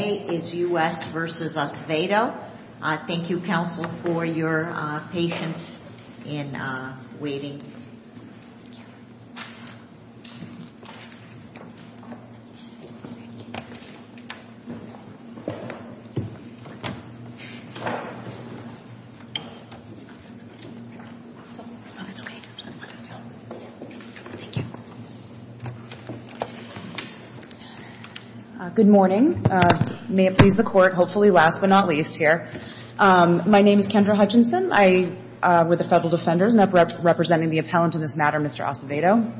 Thank you, counsel, for your patience in waiting. Good morning. May it please the Court, hopefully last but not least here. My name is Kendra Hutchinson. I, with the Federal Defenders, and I'm representing the appellant in this matter, Mr. Acevedo.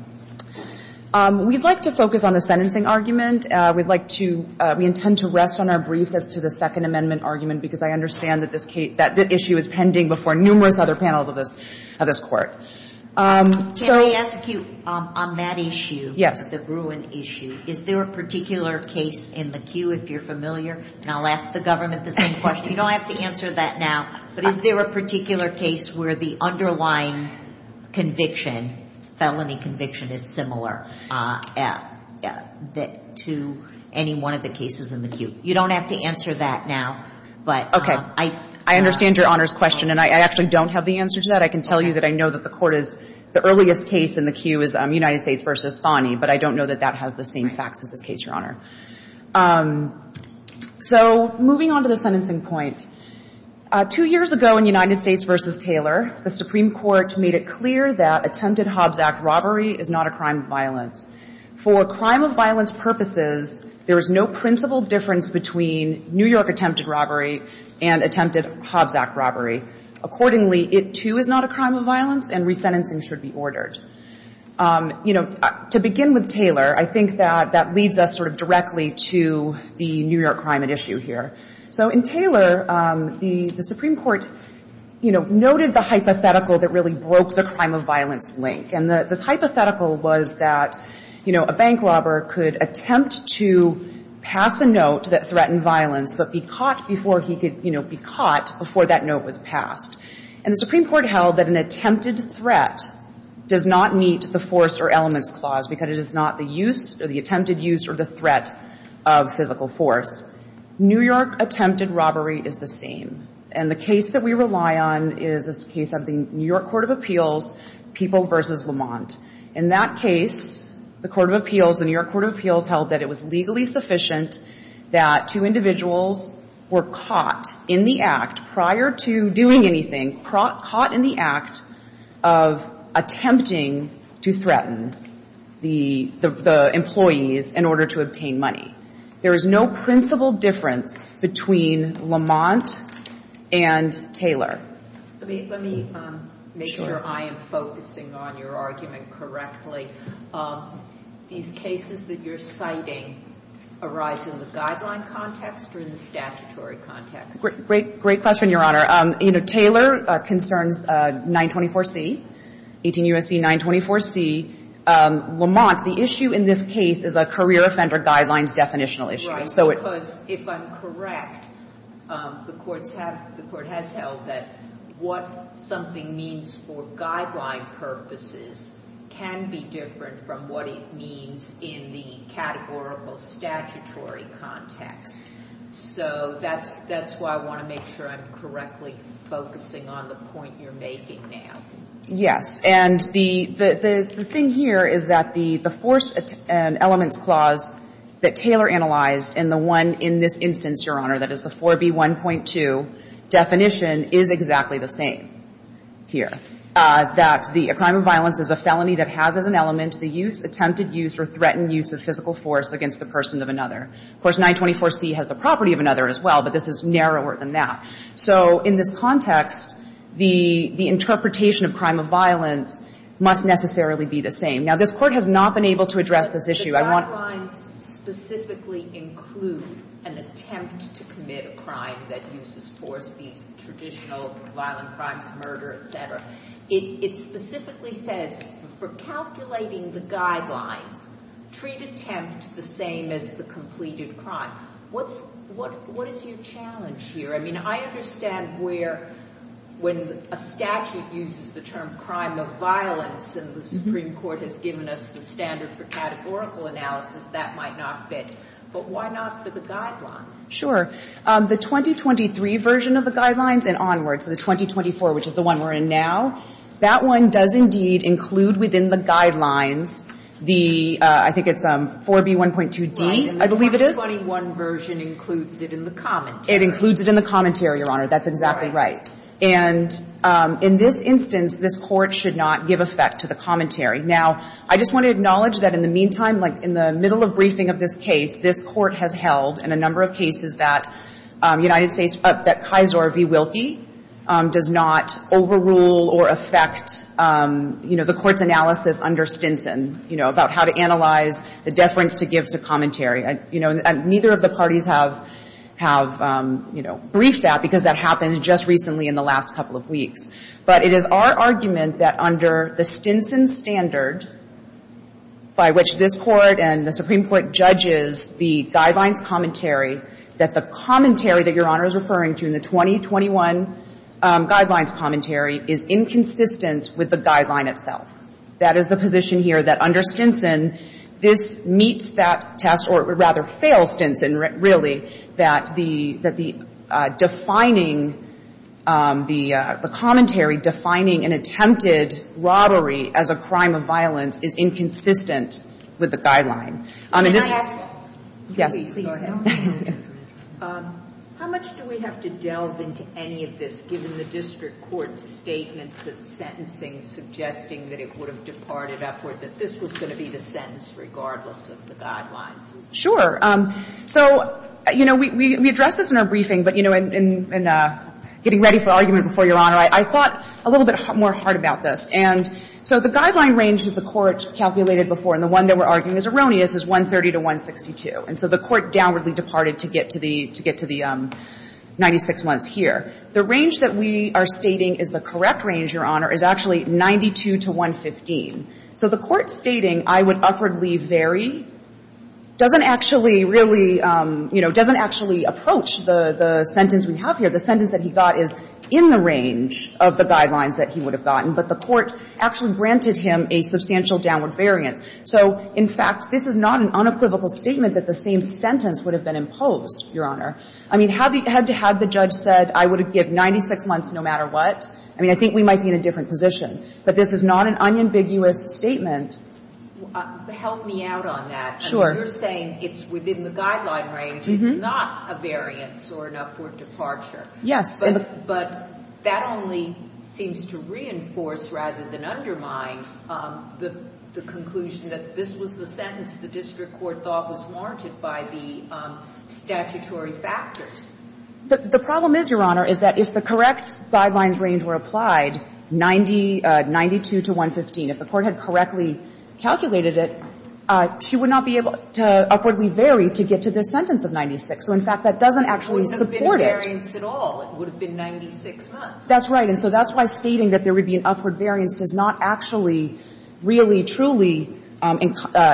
We'd like to focus on the sentencing argument. We'd like to, we intend to rest on our briefs as to the Second Amendment argument because I understand that this case, that issue is pending before numerous other panels of this, of this Court. So... Can I ask you, on that issue, the Bruin issue, is there a particular case in the queue, if you're familiar? And I'll ask the government the same question. You don't have to answer that now, but is there a particular case where the underlying conviction, felony conviction, is similar to any one of the cases in the queue? You don't have to answer that now, but... Okay. I understand Your Honor's question, and I actually don't have the answer to that. I can tell you that I know that the Court is, the earliest case in the queue is United States v. Thoney, but I don't know that that has the same facts as this case, Your Honor. So moving on to the sentencing point, two years ago in United States v. Taylor, the Supreme Court made it clear that attempted Hobbs Act robbery is not a crime of violence. For crime of violence purposes, there is no principal difference between New York attempted robbery and attempted Hobbs Act robbery. Accordingly, it, too, is not a crime of violence, and resentencing should be ordered. You know, to begin with Taylor, I think that that leads us sort of directly to the New York crime at issue here. So in Taylor, the Supreme Court, you know, noted the hypothetical that really broke the crime of violence link. And this hypothetical was that, you know, a bank robber could attempt to pass a note that threatened violence, but be caught before he could, you know, be caught before that note was passed. And the Supreme Court held that an attempted threat does not meet the force or elements clause, because it is not the use or the attempted use or the threat of physical force. New York attempted robbery is the same. And the case that we rely on is this case of the New York Court of Appeals, People v. Lamont. In that case, the Court of Appeals, the New York Court of Appeals held that it was legally sufficient that two individuals were caught in the act prior to doing anything, caught in the act of attempting to threaten the employees in order to obtain money. There is no principal difference between Lamont and Taylor. Let me make sure I am focusing on your argument correctly. These cases that you're citing arise in the guideline context or in the statutory context? Great question, Your Honor. You know, Taylor concerns 924C, 18 U.S.C. 924C. Lamont, the issue in this case is a career offender guidelines definitional issue. Right. Because if I'm correct, the courts have the Court has held that what something means for guideline purposes can be different from what it means in the categorical statutory context. So that's why I want to make sure I'm correctly focusing on the point you're making now. Yes. And the thing here is that the force and elements clause that Taylor analyzed and the one in this instance, Your Honor, that is the 4B1.2 definition is exactly the same here, that the crime of violence is a felony that has as an element the use, attempted use, or threatened use of physical force against the person of another. Of course, 924C has the property of another as well, but this is narrower than that. So in this context, the interpretation of crime of violence must necessarily be the same. Now, this Court has not been able to address this issue. I want to specifically include an attempt to commit a crime that uses force, these traditional violent crimes, murder, et cetera. It specifically says for calculating the guidelines, treat attempt the same as the completed crime. What is your challenge here? I mean, I understand where when a statute uses the term crime of violence and the Supreme Court has given us the standard for categorical analysis, that might not fit. But why not for the guidelines? Sure. The 2023 version of the guidelines and onward, so the 2024, which is the one we're in now, that one does indeed include within the guidelines the, I think it's 4B1.2D, I believe it is. Right. And the 2021 version includes it in the commentary. It includes it in the commentary, Your Honor. That's exactly right. All right. And in this instance, this Court should not give effect to the commentary. Now, I just want to acknowledge that in the meantime, like in the middle of briefing of this case, this Court has held in a number of cases that United States, that Kaiser v. Wilkie does not overrule or affect, you know, the Court's analysis under Stinson, you know, about how to analyze the deference to give to commentary. You know, neither of the parties have, you know, briefed that because that happened just recently in the last couple of weeks. But it is our argument that under the Stinson standard, by which this Court and the Supreme Court judges the guidelines commentary, that the commentary that Your Honor is referring to in the 2021 guidelines commentary is inconsistent with the guideline itself. That is the position here, that under Stinson, this meets that test, or rather fails Stinson, really, that the defining, the commentary defining an attempted robbery as a crime of violence is inconsistent with the guideline. Can I ask? Yes. Please, go ahead. How much do we have to delve into any of this, given the district court's statements of sentencing suggesting that it would have departed upward, that this was going to be the sentence regardless of the guidelines? Sure. So, you know, we address this in our briefing, but, you know, in getting ready for argument before Your Honor, I thought a little bit more hard about this. And so the guideline range that the Court calculated before, and the one that we're And so the Court downwardly departed to get to the 96 months here. The range that we are stating is the correct range, Your Honor, is actually 92 to 115. So the Court stating, I would upwardly vary, doesn't actually really, you know, doesn't actually approach the sentence we have here. The sentence that he got is in the range of the guidelines that he would have gotten, but the Court actually granted him a substantial downward variance. So, in fact, this is not an unequivocal statement that the same sentence would have been imposed, Your Honor. I mean, had the judge said I would give 96 months no matter what, I mean, I think we might be in a different position. But this is not an unambiguous statement. Help me out on that. Sure. You're saying it's within the guideline range. It's not a variance or an upward departure. Yes. But that only seems to reinforce rather than undermine the conclusion that this was the sentence the district court thought was warranted by the statutory factors. The problem is, Your Honor, is that if the correct guidelines range were applied, 92 to 115, if the Court had correctly calculated it, she would not be able to upwardly vary to get to this sentence of 96. So, in fact, that doesn't actually support it. It's not an upward variance at all. It would have been 96 months. That's right. And so that's why stating that there would be an upward variance does not actually really, truly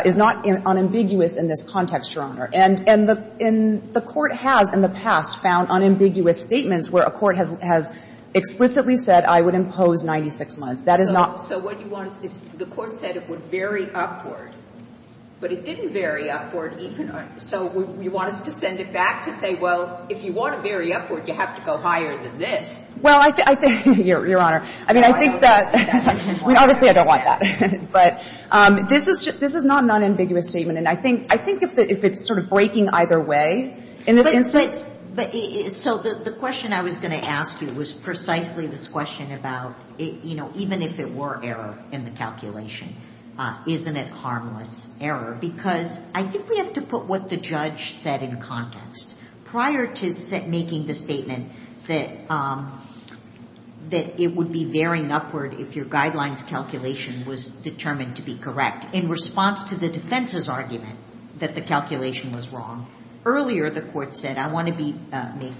is not unambiguous in this context, Your Honor. And the Court has in the past found unambiguous statements where a court has explicitly said I would impose 96 months. That is not. So what you want is the Court said it would vary upward, but it didn't vary upward even. So you want us to send it back to say, well, if you want to vary upward, you have to go higher than this. Well, I think, Your Honor, I mean, I think that, obviously, I don't want that. But this is not an unambiguous statement. And I think if it's sort of breaking either way in this instance. So the question I was going to ask you was precisely this question about, you know, even if it were error in the calculation, isn't it harmless error? Because I think we have to put what the judge said in context. Prior to making the statement that it would be varying upward if your guidelines calculation was determined to be correct, in response to the defense's argument that the calculation was wrong, earlier the Court said I want to be made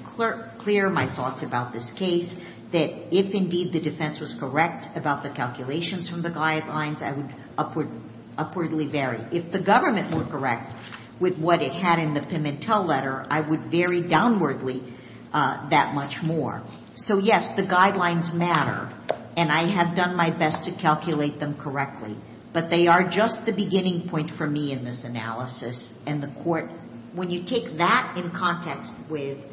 clear my thoughts about this case, that if indeed the defense was correct about the calculations from the guidelines, I would upwardly vary. If the government were correct with what it had in the Pimentel letter, I would vary downwardly that much more. So, yes, the guidelines matter. And I have done my best to calculate them correctly. But they are just the beginning point for me in this analysis. And the Court, when you take that in context with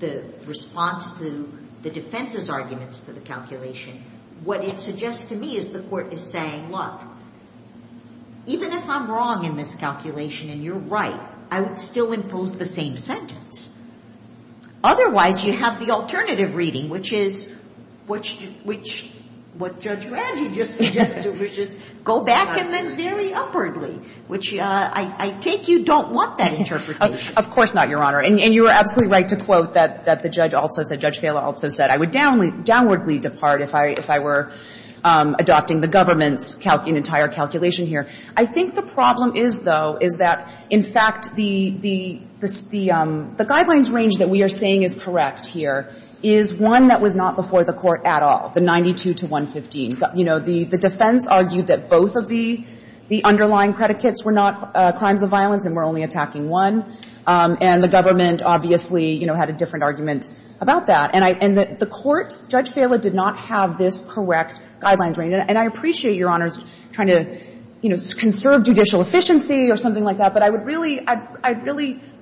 the response to the defense's arguments for the calculation, what it suggests to me is the Court is saying, look, even if I'm wrong in this calculation and you're right, I would still impose the same sentence. Otherwise, you have the alternative reading, which is what Judge Ranji just suggested, which is go back and then vary upwardly, which I take you don't want that interpretation. Of course not, Your Honor. And you are absolutely right to quote that the judge also said, Judge Bailiff also said, I would downwardly depart if I were adopting the government's entire calculation here. I think the problem is, though, is that, in fact, the guidelines range that we are saying is correct here is one that was not before the Court at all, the 92 to 115. You know, the defense argued that both of the underlying predicates were not crimes of violence and were only attacking one. And the government obviously, you know, had a different argument about that. And the Court, Judge Fala, did not have this correct guidelines range. And I appreciate, Your Honors, trying to, you know, conserve judicial efficiency or something like that, but I would really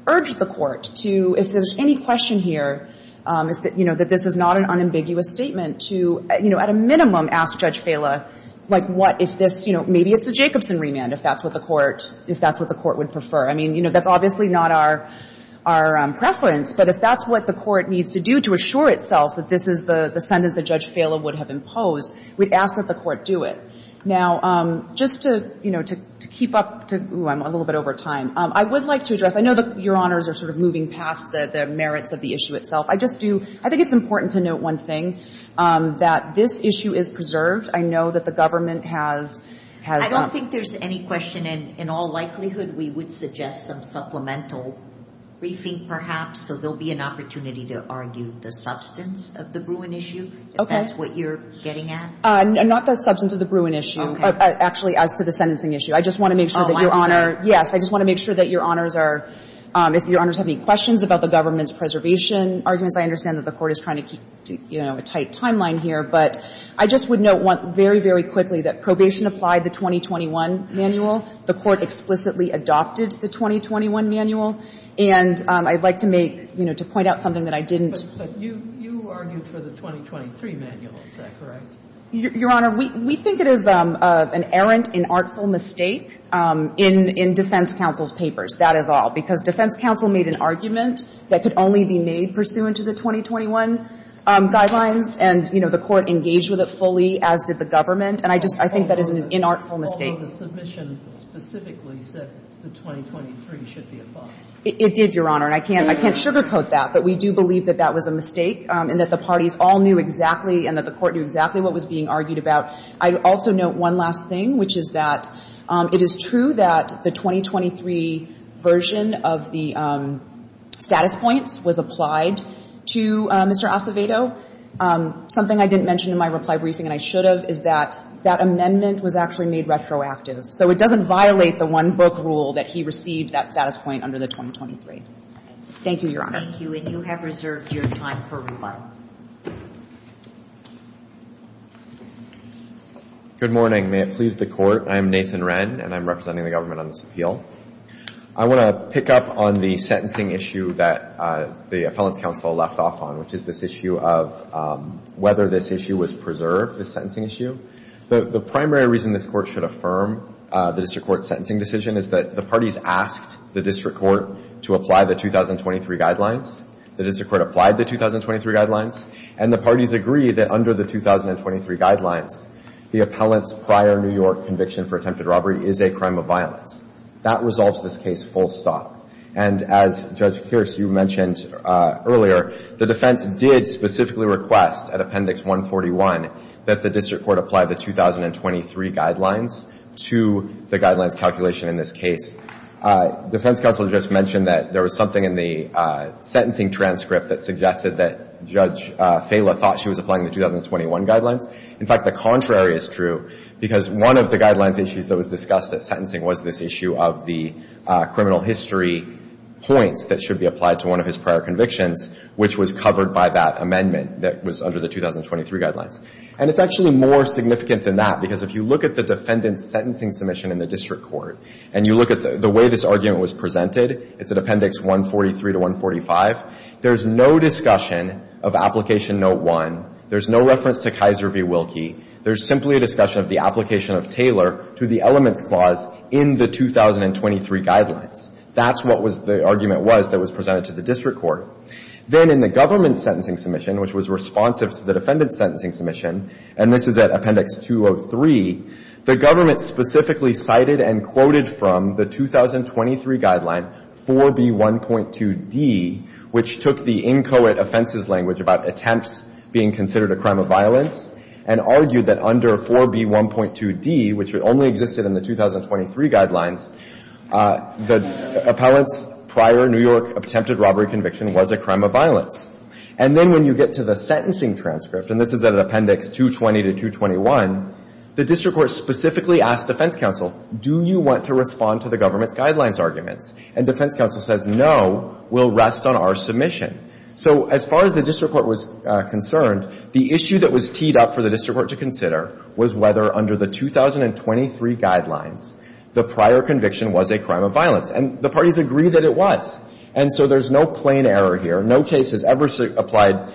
urge the Court to, if there's any question here, you know, that this is not an unambiguous statement, to, you know, at a minimum ask Judge Fala, like, what if this, you know, maybe it's a Jacobson remand, if that's what the Court would prefer. I mean, you know, that's obviously not our preference, but if that's what the Court needs to do to assure itself that this is the sentence that Judge Fala would have imposed, we'd ask that the Court do it. Now, just to, you know, to keep up to – ooh, I'm a little bit over time. I would like to address – I know that Your Honors are sort of moving past the merits of the issue itself. I just do – I think it's important to note one thing, that this issue is preserved. I know that the government has – has – I don't think there's any question, and in all likelihood, we would suggest some briefing, perhaps, so there'll be an opportunity to argue the substance of the Bruin issue, if that's what you're getting at. Not the substance of the Bruin issue. Okay. Actually, as to the sentencing issue. I just want to make sure that Your Honor – Yes. I just want to make sure that Your Honors are – if Your Honors have any questions about the government's preservation arguments, I understand that the Court is trying to keep, you know, a tight timeline here. But I just would note very, very quickly that probation applied the 2021 manual. The Court explicitly adopted the 2021 manual. And I'd like to make – you know, to point out something that I didn't – But you argued for the 2023 manual. Is that correct? Your Honor, we think it is an errant, inartful mistake in defense counsel's papers. That is all. Because defense counsel made an argument that could only be made pursuant to the 2021 guidelines, and, you know, the Court engaged with it fully, as did the government. And I just – I think that is an inartful mistake. Well, the submission specifically said the 2023 should be applied. It did, Your Honor. And I can't sugarcoat that. But we do believe that that was a mistake and that the parties all knew exactly and that the Court knew exactly what was being argued about. I'd also note one last thing, which is that it is true that the 2023 version of the status points was applied to Mr. Acevedo. Something I didn't mention in my reply briefing, and I should have, is that that doesn't violate the one-book rule that he received that status point under the 2023. Thank you, Your Honor. Thank you. And you have reserved your time for rebuttal. Good morning. May it please the Court. I am Nathan Wren, and I'm representing the government on this appeal. I want to pick up on the sentencing issue that the appellant's counsel left off on, which is this issue of whether this issue was preserved, this sentencing issue. The primary reason this Court should affirm the district court's sentencing decision is that the parties asked the district court to apply the 2023 guidelines. The district court applied the 2023 guidelines, and the parties agree that under the 2023 guidelines, the appellant's prior New York conviction for attempted robbery is a crime of violence. That resolves this case full stop. And as, Judge Kearse, you mentioned earlier, the defense did specifically request at Appendix 141 that the district court apply the 2023 guidelines to the guidelines calculation in this case. Defense counsel just mentioned that there was something in the sentencing transcript that suggested that Judge Fela thought she was applying the 2021 guidelines. In fact, the contrary is true, because one of the guidelines issues that was discussed at sentencing was this issue of the criminal history points that should be applied to one of his prior convictions, which was covered by that amendment that was under the 2023 guidelines. And it's actually more significant than that, because if you look at the defendant's sentencing submission in the district court, and you look at the way this argument was presented, it's at Appendix 143 to 145, there's no discussion of Application Note 1. There's no reference to Kaiser v. Wilkie. There's simply a discussion of the application of Taylor to the elements clause in the 2023 guidelines. That's what the argument was that was presented to the district court. Then in the government's sentencing submission, which was responsive to the defendant's sentencing submission, and this is at Appendix 203, the government specifically cited and quoted from the 2023 guideline 4B1.2d, which took the inchoate offenses language about attempts being considered a crime of violence and argued that under 4B1.2d, which only existed in the 2023 guidelines, the appellant's prior New York attempted robbery conviction was a crime of violence. And then when you get to the sentencing transcript, and this is at Appendix 220 to 221, the district court specifically asked defense counsel, do you want to respond to the government's guidelines arguments? And defense counsel says, no, we'll rest on our submission. So as far as the district court was concerned, the issue that was teed up for the district court to consider was whether under the 2023 guidelines, the prior conviction was a crime of violence. And the parties agreed that it was. And so there's no plain error here. No case has ever applied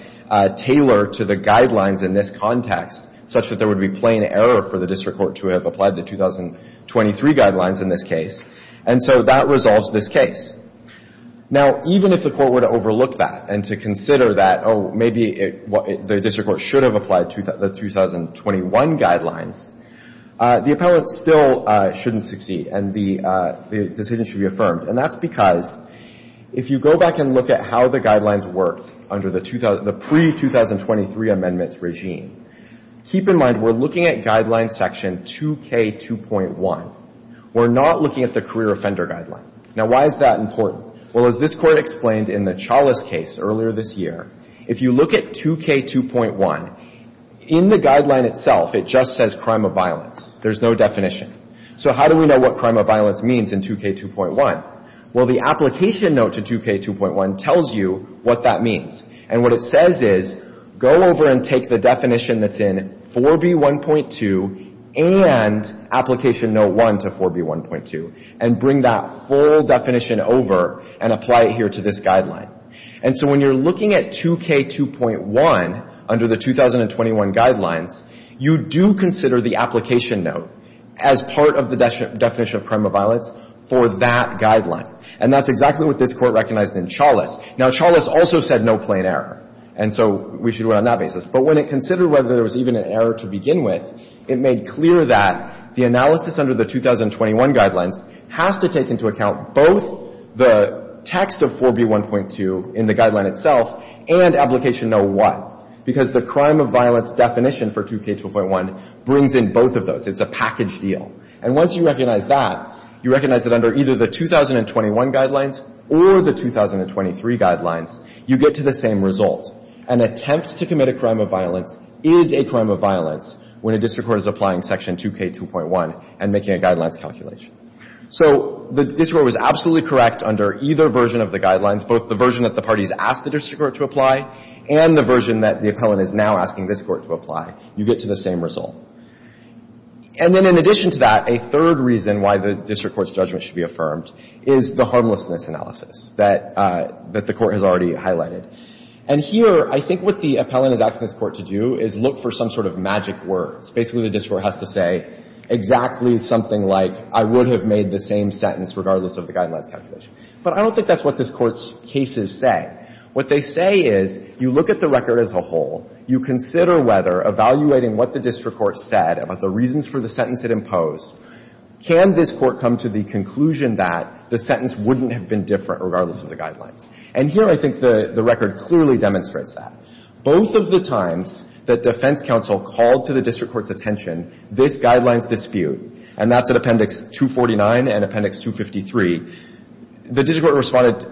Taylor to the guidelines in this context such that there would be plain error for the district court to have applied the 2023 guidelines in this case. And so that resolves this case. Now, even if the court were to overlook that and to consider that, oh, maybe the district court should have applied the 2021 guidelines, the appellant still shouldn't succeed and the decision should be affirmed. And that's because if you go back and look at how the guidelines worked under the pre-2023 amendments regime, keep in mind we're looking at Guideline Section 2K2.1. We're not looking at the career offender guideline. Now, why is that important? Well, as this Court explained in the Chalice case earlier this year, if you look at 2K2.1, in the guideline itself it just says crime of violence. There's no definition. So how do we know what crime of violence means in 2K2.1? Well, the application note to 2K2.1 tells you what that means. And what it says is go over and take the definition that's in 4B1.2 and application note 1 to 4B1.2 and bring that full definition over and apply it here to this guideline. And so when you're looking at 2K2.1 under the 2021 guidelines, you do consider the application note as part of the definition of crime of violence for that guideline. And that's exactly what this Court recognized in Chalice. Now, Chalice also said no plain error. And so we should do it on that basis. But when it considered whether there was even an error to begin with, it made clear that the analysis under the 2021 guidelines has to take into account both the text of 4B1.2 in the guideline itself and application note 1, because the crime of violence definition for 2K2.1 brings in both of those. It's a package deal. And once you recognize that, you recognize that under either the 2021 guidelines or the 2023 guidelines, you get to the same result. An attempt to commit a crime of violence is a crime of violence when a district court is applying Section 2K2.1 and making a guidelines calculation. So the district court was absolutely correct under either version of the guidelines, both the version that the parties asked the district court to apply and the version that the appellant is now asking this Court to apply. You get to the same result. And then in addition to that, a third reason why the district court's judgment should be affirmed is the harmlessness analysis that the Court has already highlighted. And here, I think what the appellant is asking this Court to do is look for some sort of magic words. Basically, the district court has to say exactly something like, I would have made the same sentence regardless of the guidelines calculation. But I don't think that's what this Court's cases say. What they say is, you look at the record as a whole. You consider whether evaluating what the district court said about the reasons for the sentence it imposed, can this Court come to the conclusion that the sentence wouldn't have been different regardless of the guidelines? And here, I think the record clearly demonstrates that. Both of the times that defense counsel called to the district court's attention this guidelines dispute, and that's at Appendix 249 and Appendix 253, the district court responded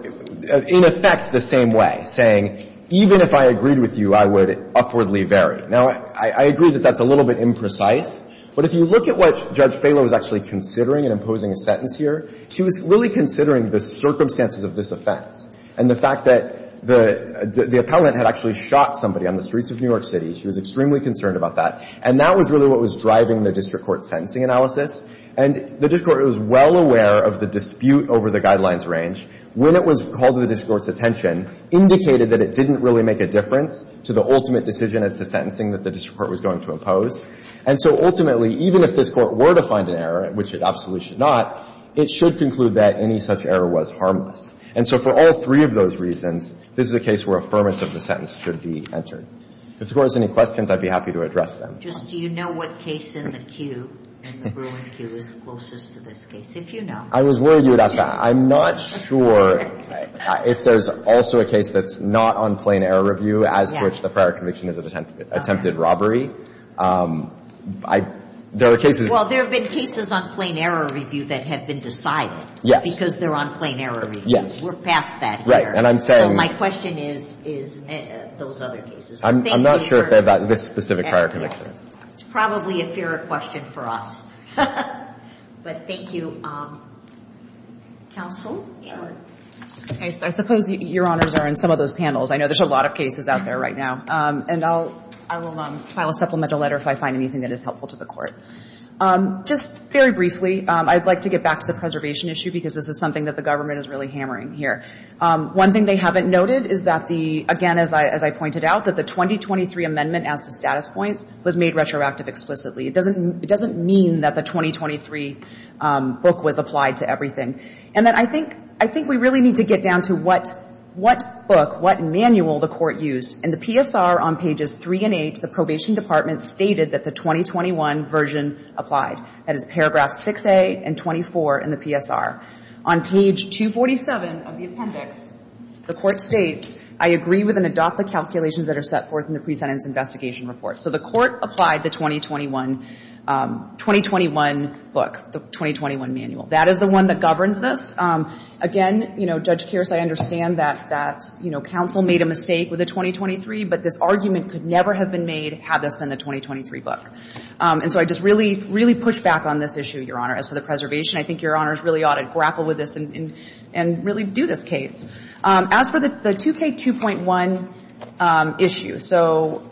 in effect the same way, saying, even if I agreed with you, I would upwardly vary. Now, I agree that that's a little bit imprecise. But if you look at what Judge Falo was actually considering in imposing a sentence here, she was really considering the circumstances of this offense and the fact that the appellant had actually shot somebody on the streets of New York City. She was extremely concerned about that. And that was really what was driving the district court's sentencing analysis. And the district court was well aware of the dispute over the guidelines range when it was called to the district court's attention, indicated that it didn't really make a difference to the ultimate decision as to sentencing that the district court was going to impose. And so ultimately, even if this Court were to find an error, which it absolutely should not, it should conclude that any such error was harmless. And so for all three of those reasons, this is a case where affirmance of the sentence should be entered. If the Court has any questions, I'd be happy to address them. Just do you know what case in the queue, in the Bruin queue, is closest to this case? If you know. I was worried you would ask that. I'm not sure if there's also a case that's not on plain error review as to which the prior conviction is an attempted robbery. I – there are cases – Well, there have been cases on plain error review that have been decided. Yes. Because they're on plain error review. Yes. We're past that here. Right. And I'm saying – So my question is those other cases. I'm not sure if they're about this specific prior conviction. It's probably a fairer question for us. But thank you. Counsel? Sure. Okay. So I suppose Your Honors are in some of those panels. I know there's a lot of cases out there right now. And I'll – I will file a supplemental letter if I find anything that is helpful to the Court. Just very briefly, I'd like to get back to the preservation issue, because this is something that the government is really hammering here. One thing they haven't noted is that the – again, as I pointed out, that the 2023 amendment as to status points was made retroactive explicitly. It doesn't mean that the 2023 book was applied to everything. And that I think – I think we really need to get down to what book, what manual the Court used. In the PSR, on pages 3 and 8, the Probation Department stated that the 2021 version applied. That is paragraph 6A and 24 in the PSR. On page 247 of the appendix, the Court states, I agree with and adopt the calculations that are set forth in the pre-sentence investigation report. So the Court applied the 2021 book, the 2021 manual. That is the one that governs this. Again, you know, Judge Kearse, I understand that, you know, counsel made a mistake with the 2023, but this argument could never have been made had this been the 2023 book. And so I just really, really push back on this issue, Your Honor, as to the preservation. I think Your Honors really ought to grapple with this and really do this case. As for the 2K2.1 issue, so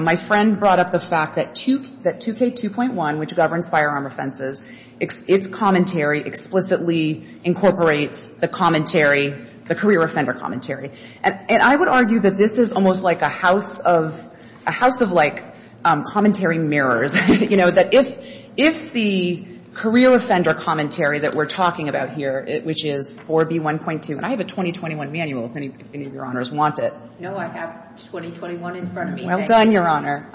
my friend brought up the fact that 2K2.1, which governs firearm offenses, its commentary explicitly incorporates the commentary, the career offender commentary. And I would argue that this is almost like a house of like commentary mirrors, you know, that if the career offender commentary that we're talking about here, which is 4B1.2, and I have a 2021 manual if any of Your Honors want it. No, I have 2021 in front of me. Well done, Your Honor.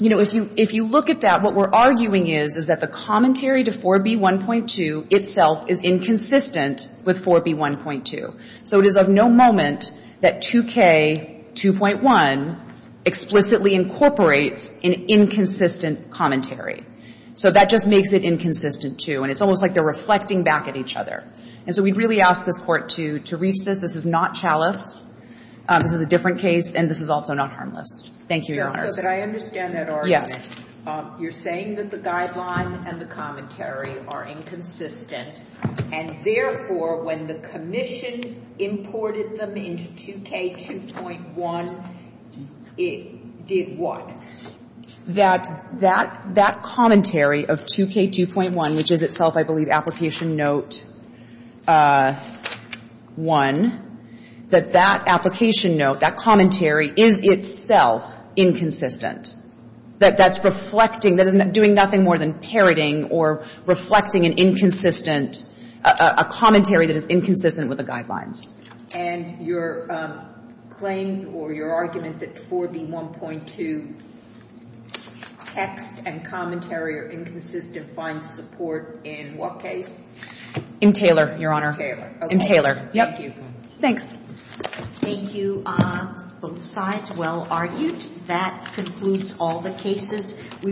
You know, if you look at that, what we're arguing is, is that the commentary to 4B1.2 itself is inconsistent with 4B1.2. So it is of no moment that 2K2.1 explicitly incorporates an inconsistent commentary. So that just makes it inconsistent, too. And it's almost like they're reflecting back at each other. And so we'd really ask this Court to reach this. This is not chalice. This is a different case. And this is also not harmless. Thank you, Your Honors. So could I understand that argument? Yes. You're saying that the guideline and the commentary are inconsistent. And therefore, when the commission imported them into 2K2.1, it did what? That that commentary of 2K2.1, which is itself, I believe, application note 1, that that application note, that commentary, is itself inconsistent. That that's reflecting, that it's doing nothing more than parroting or reflecting an inconsistent commentary that is inconsistent with the guidelines. And your claim or your argument that 4B1.2 text and commentary are inconsistent finds support in what case? In Taylor, Your Honor. In Taylor. Yep. Thank you. Thank you. Both sides well argued. That concludes all the cases.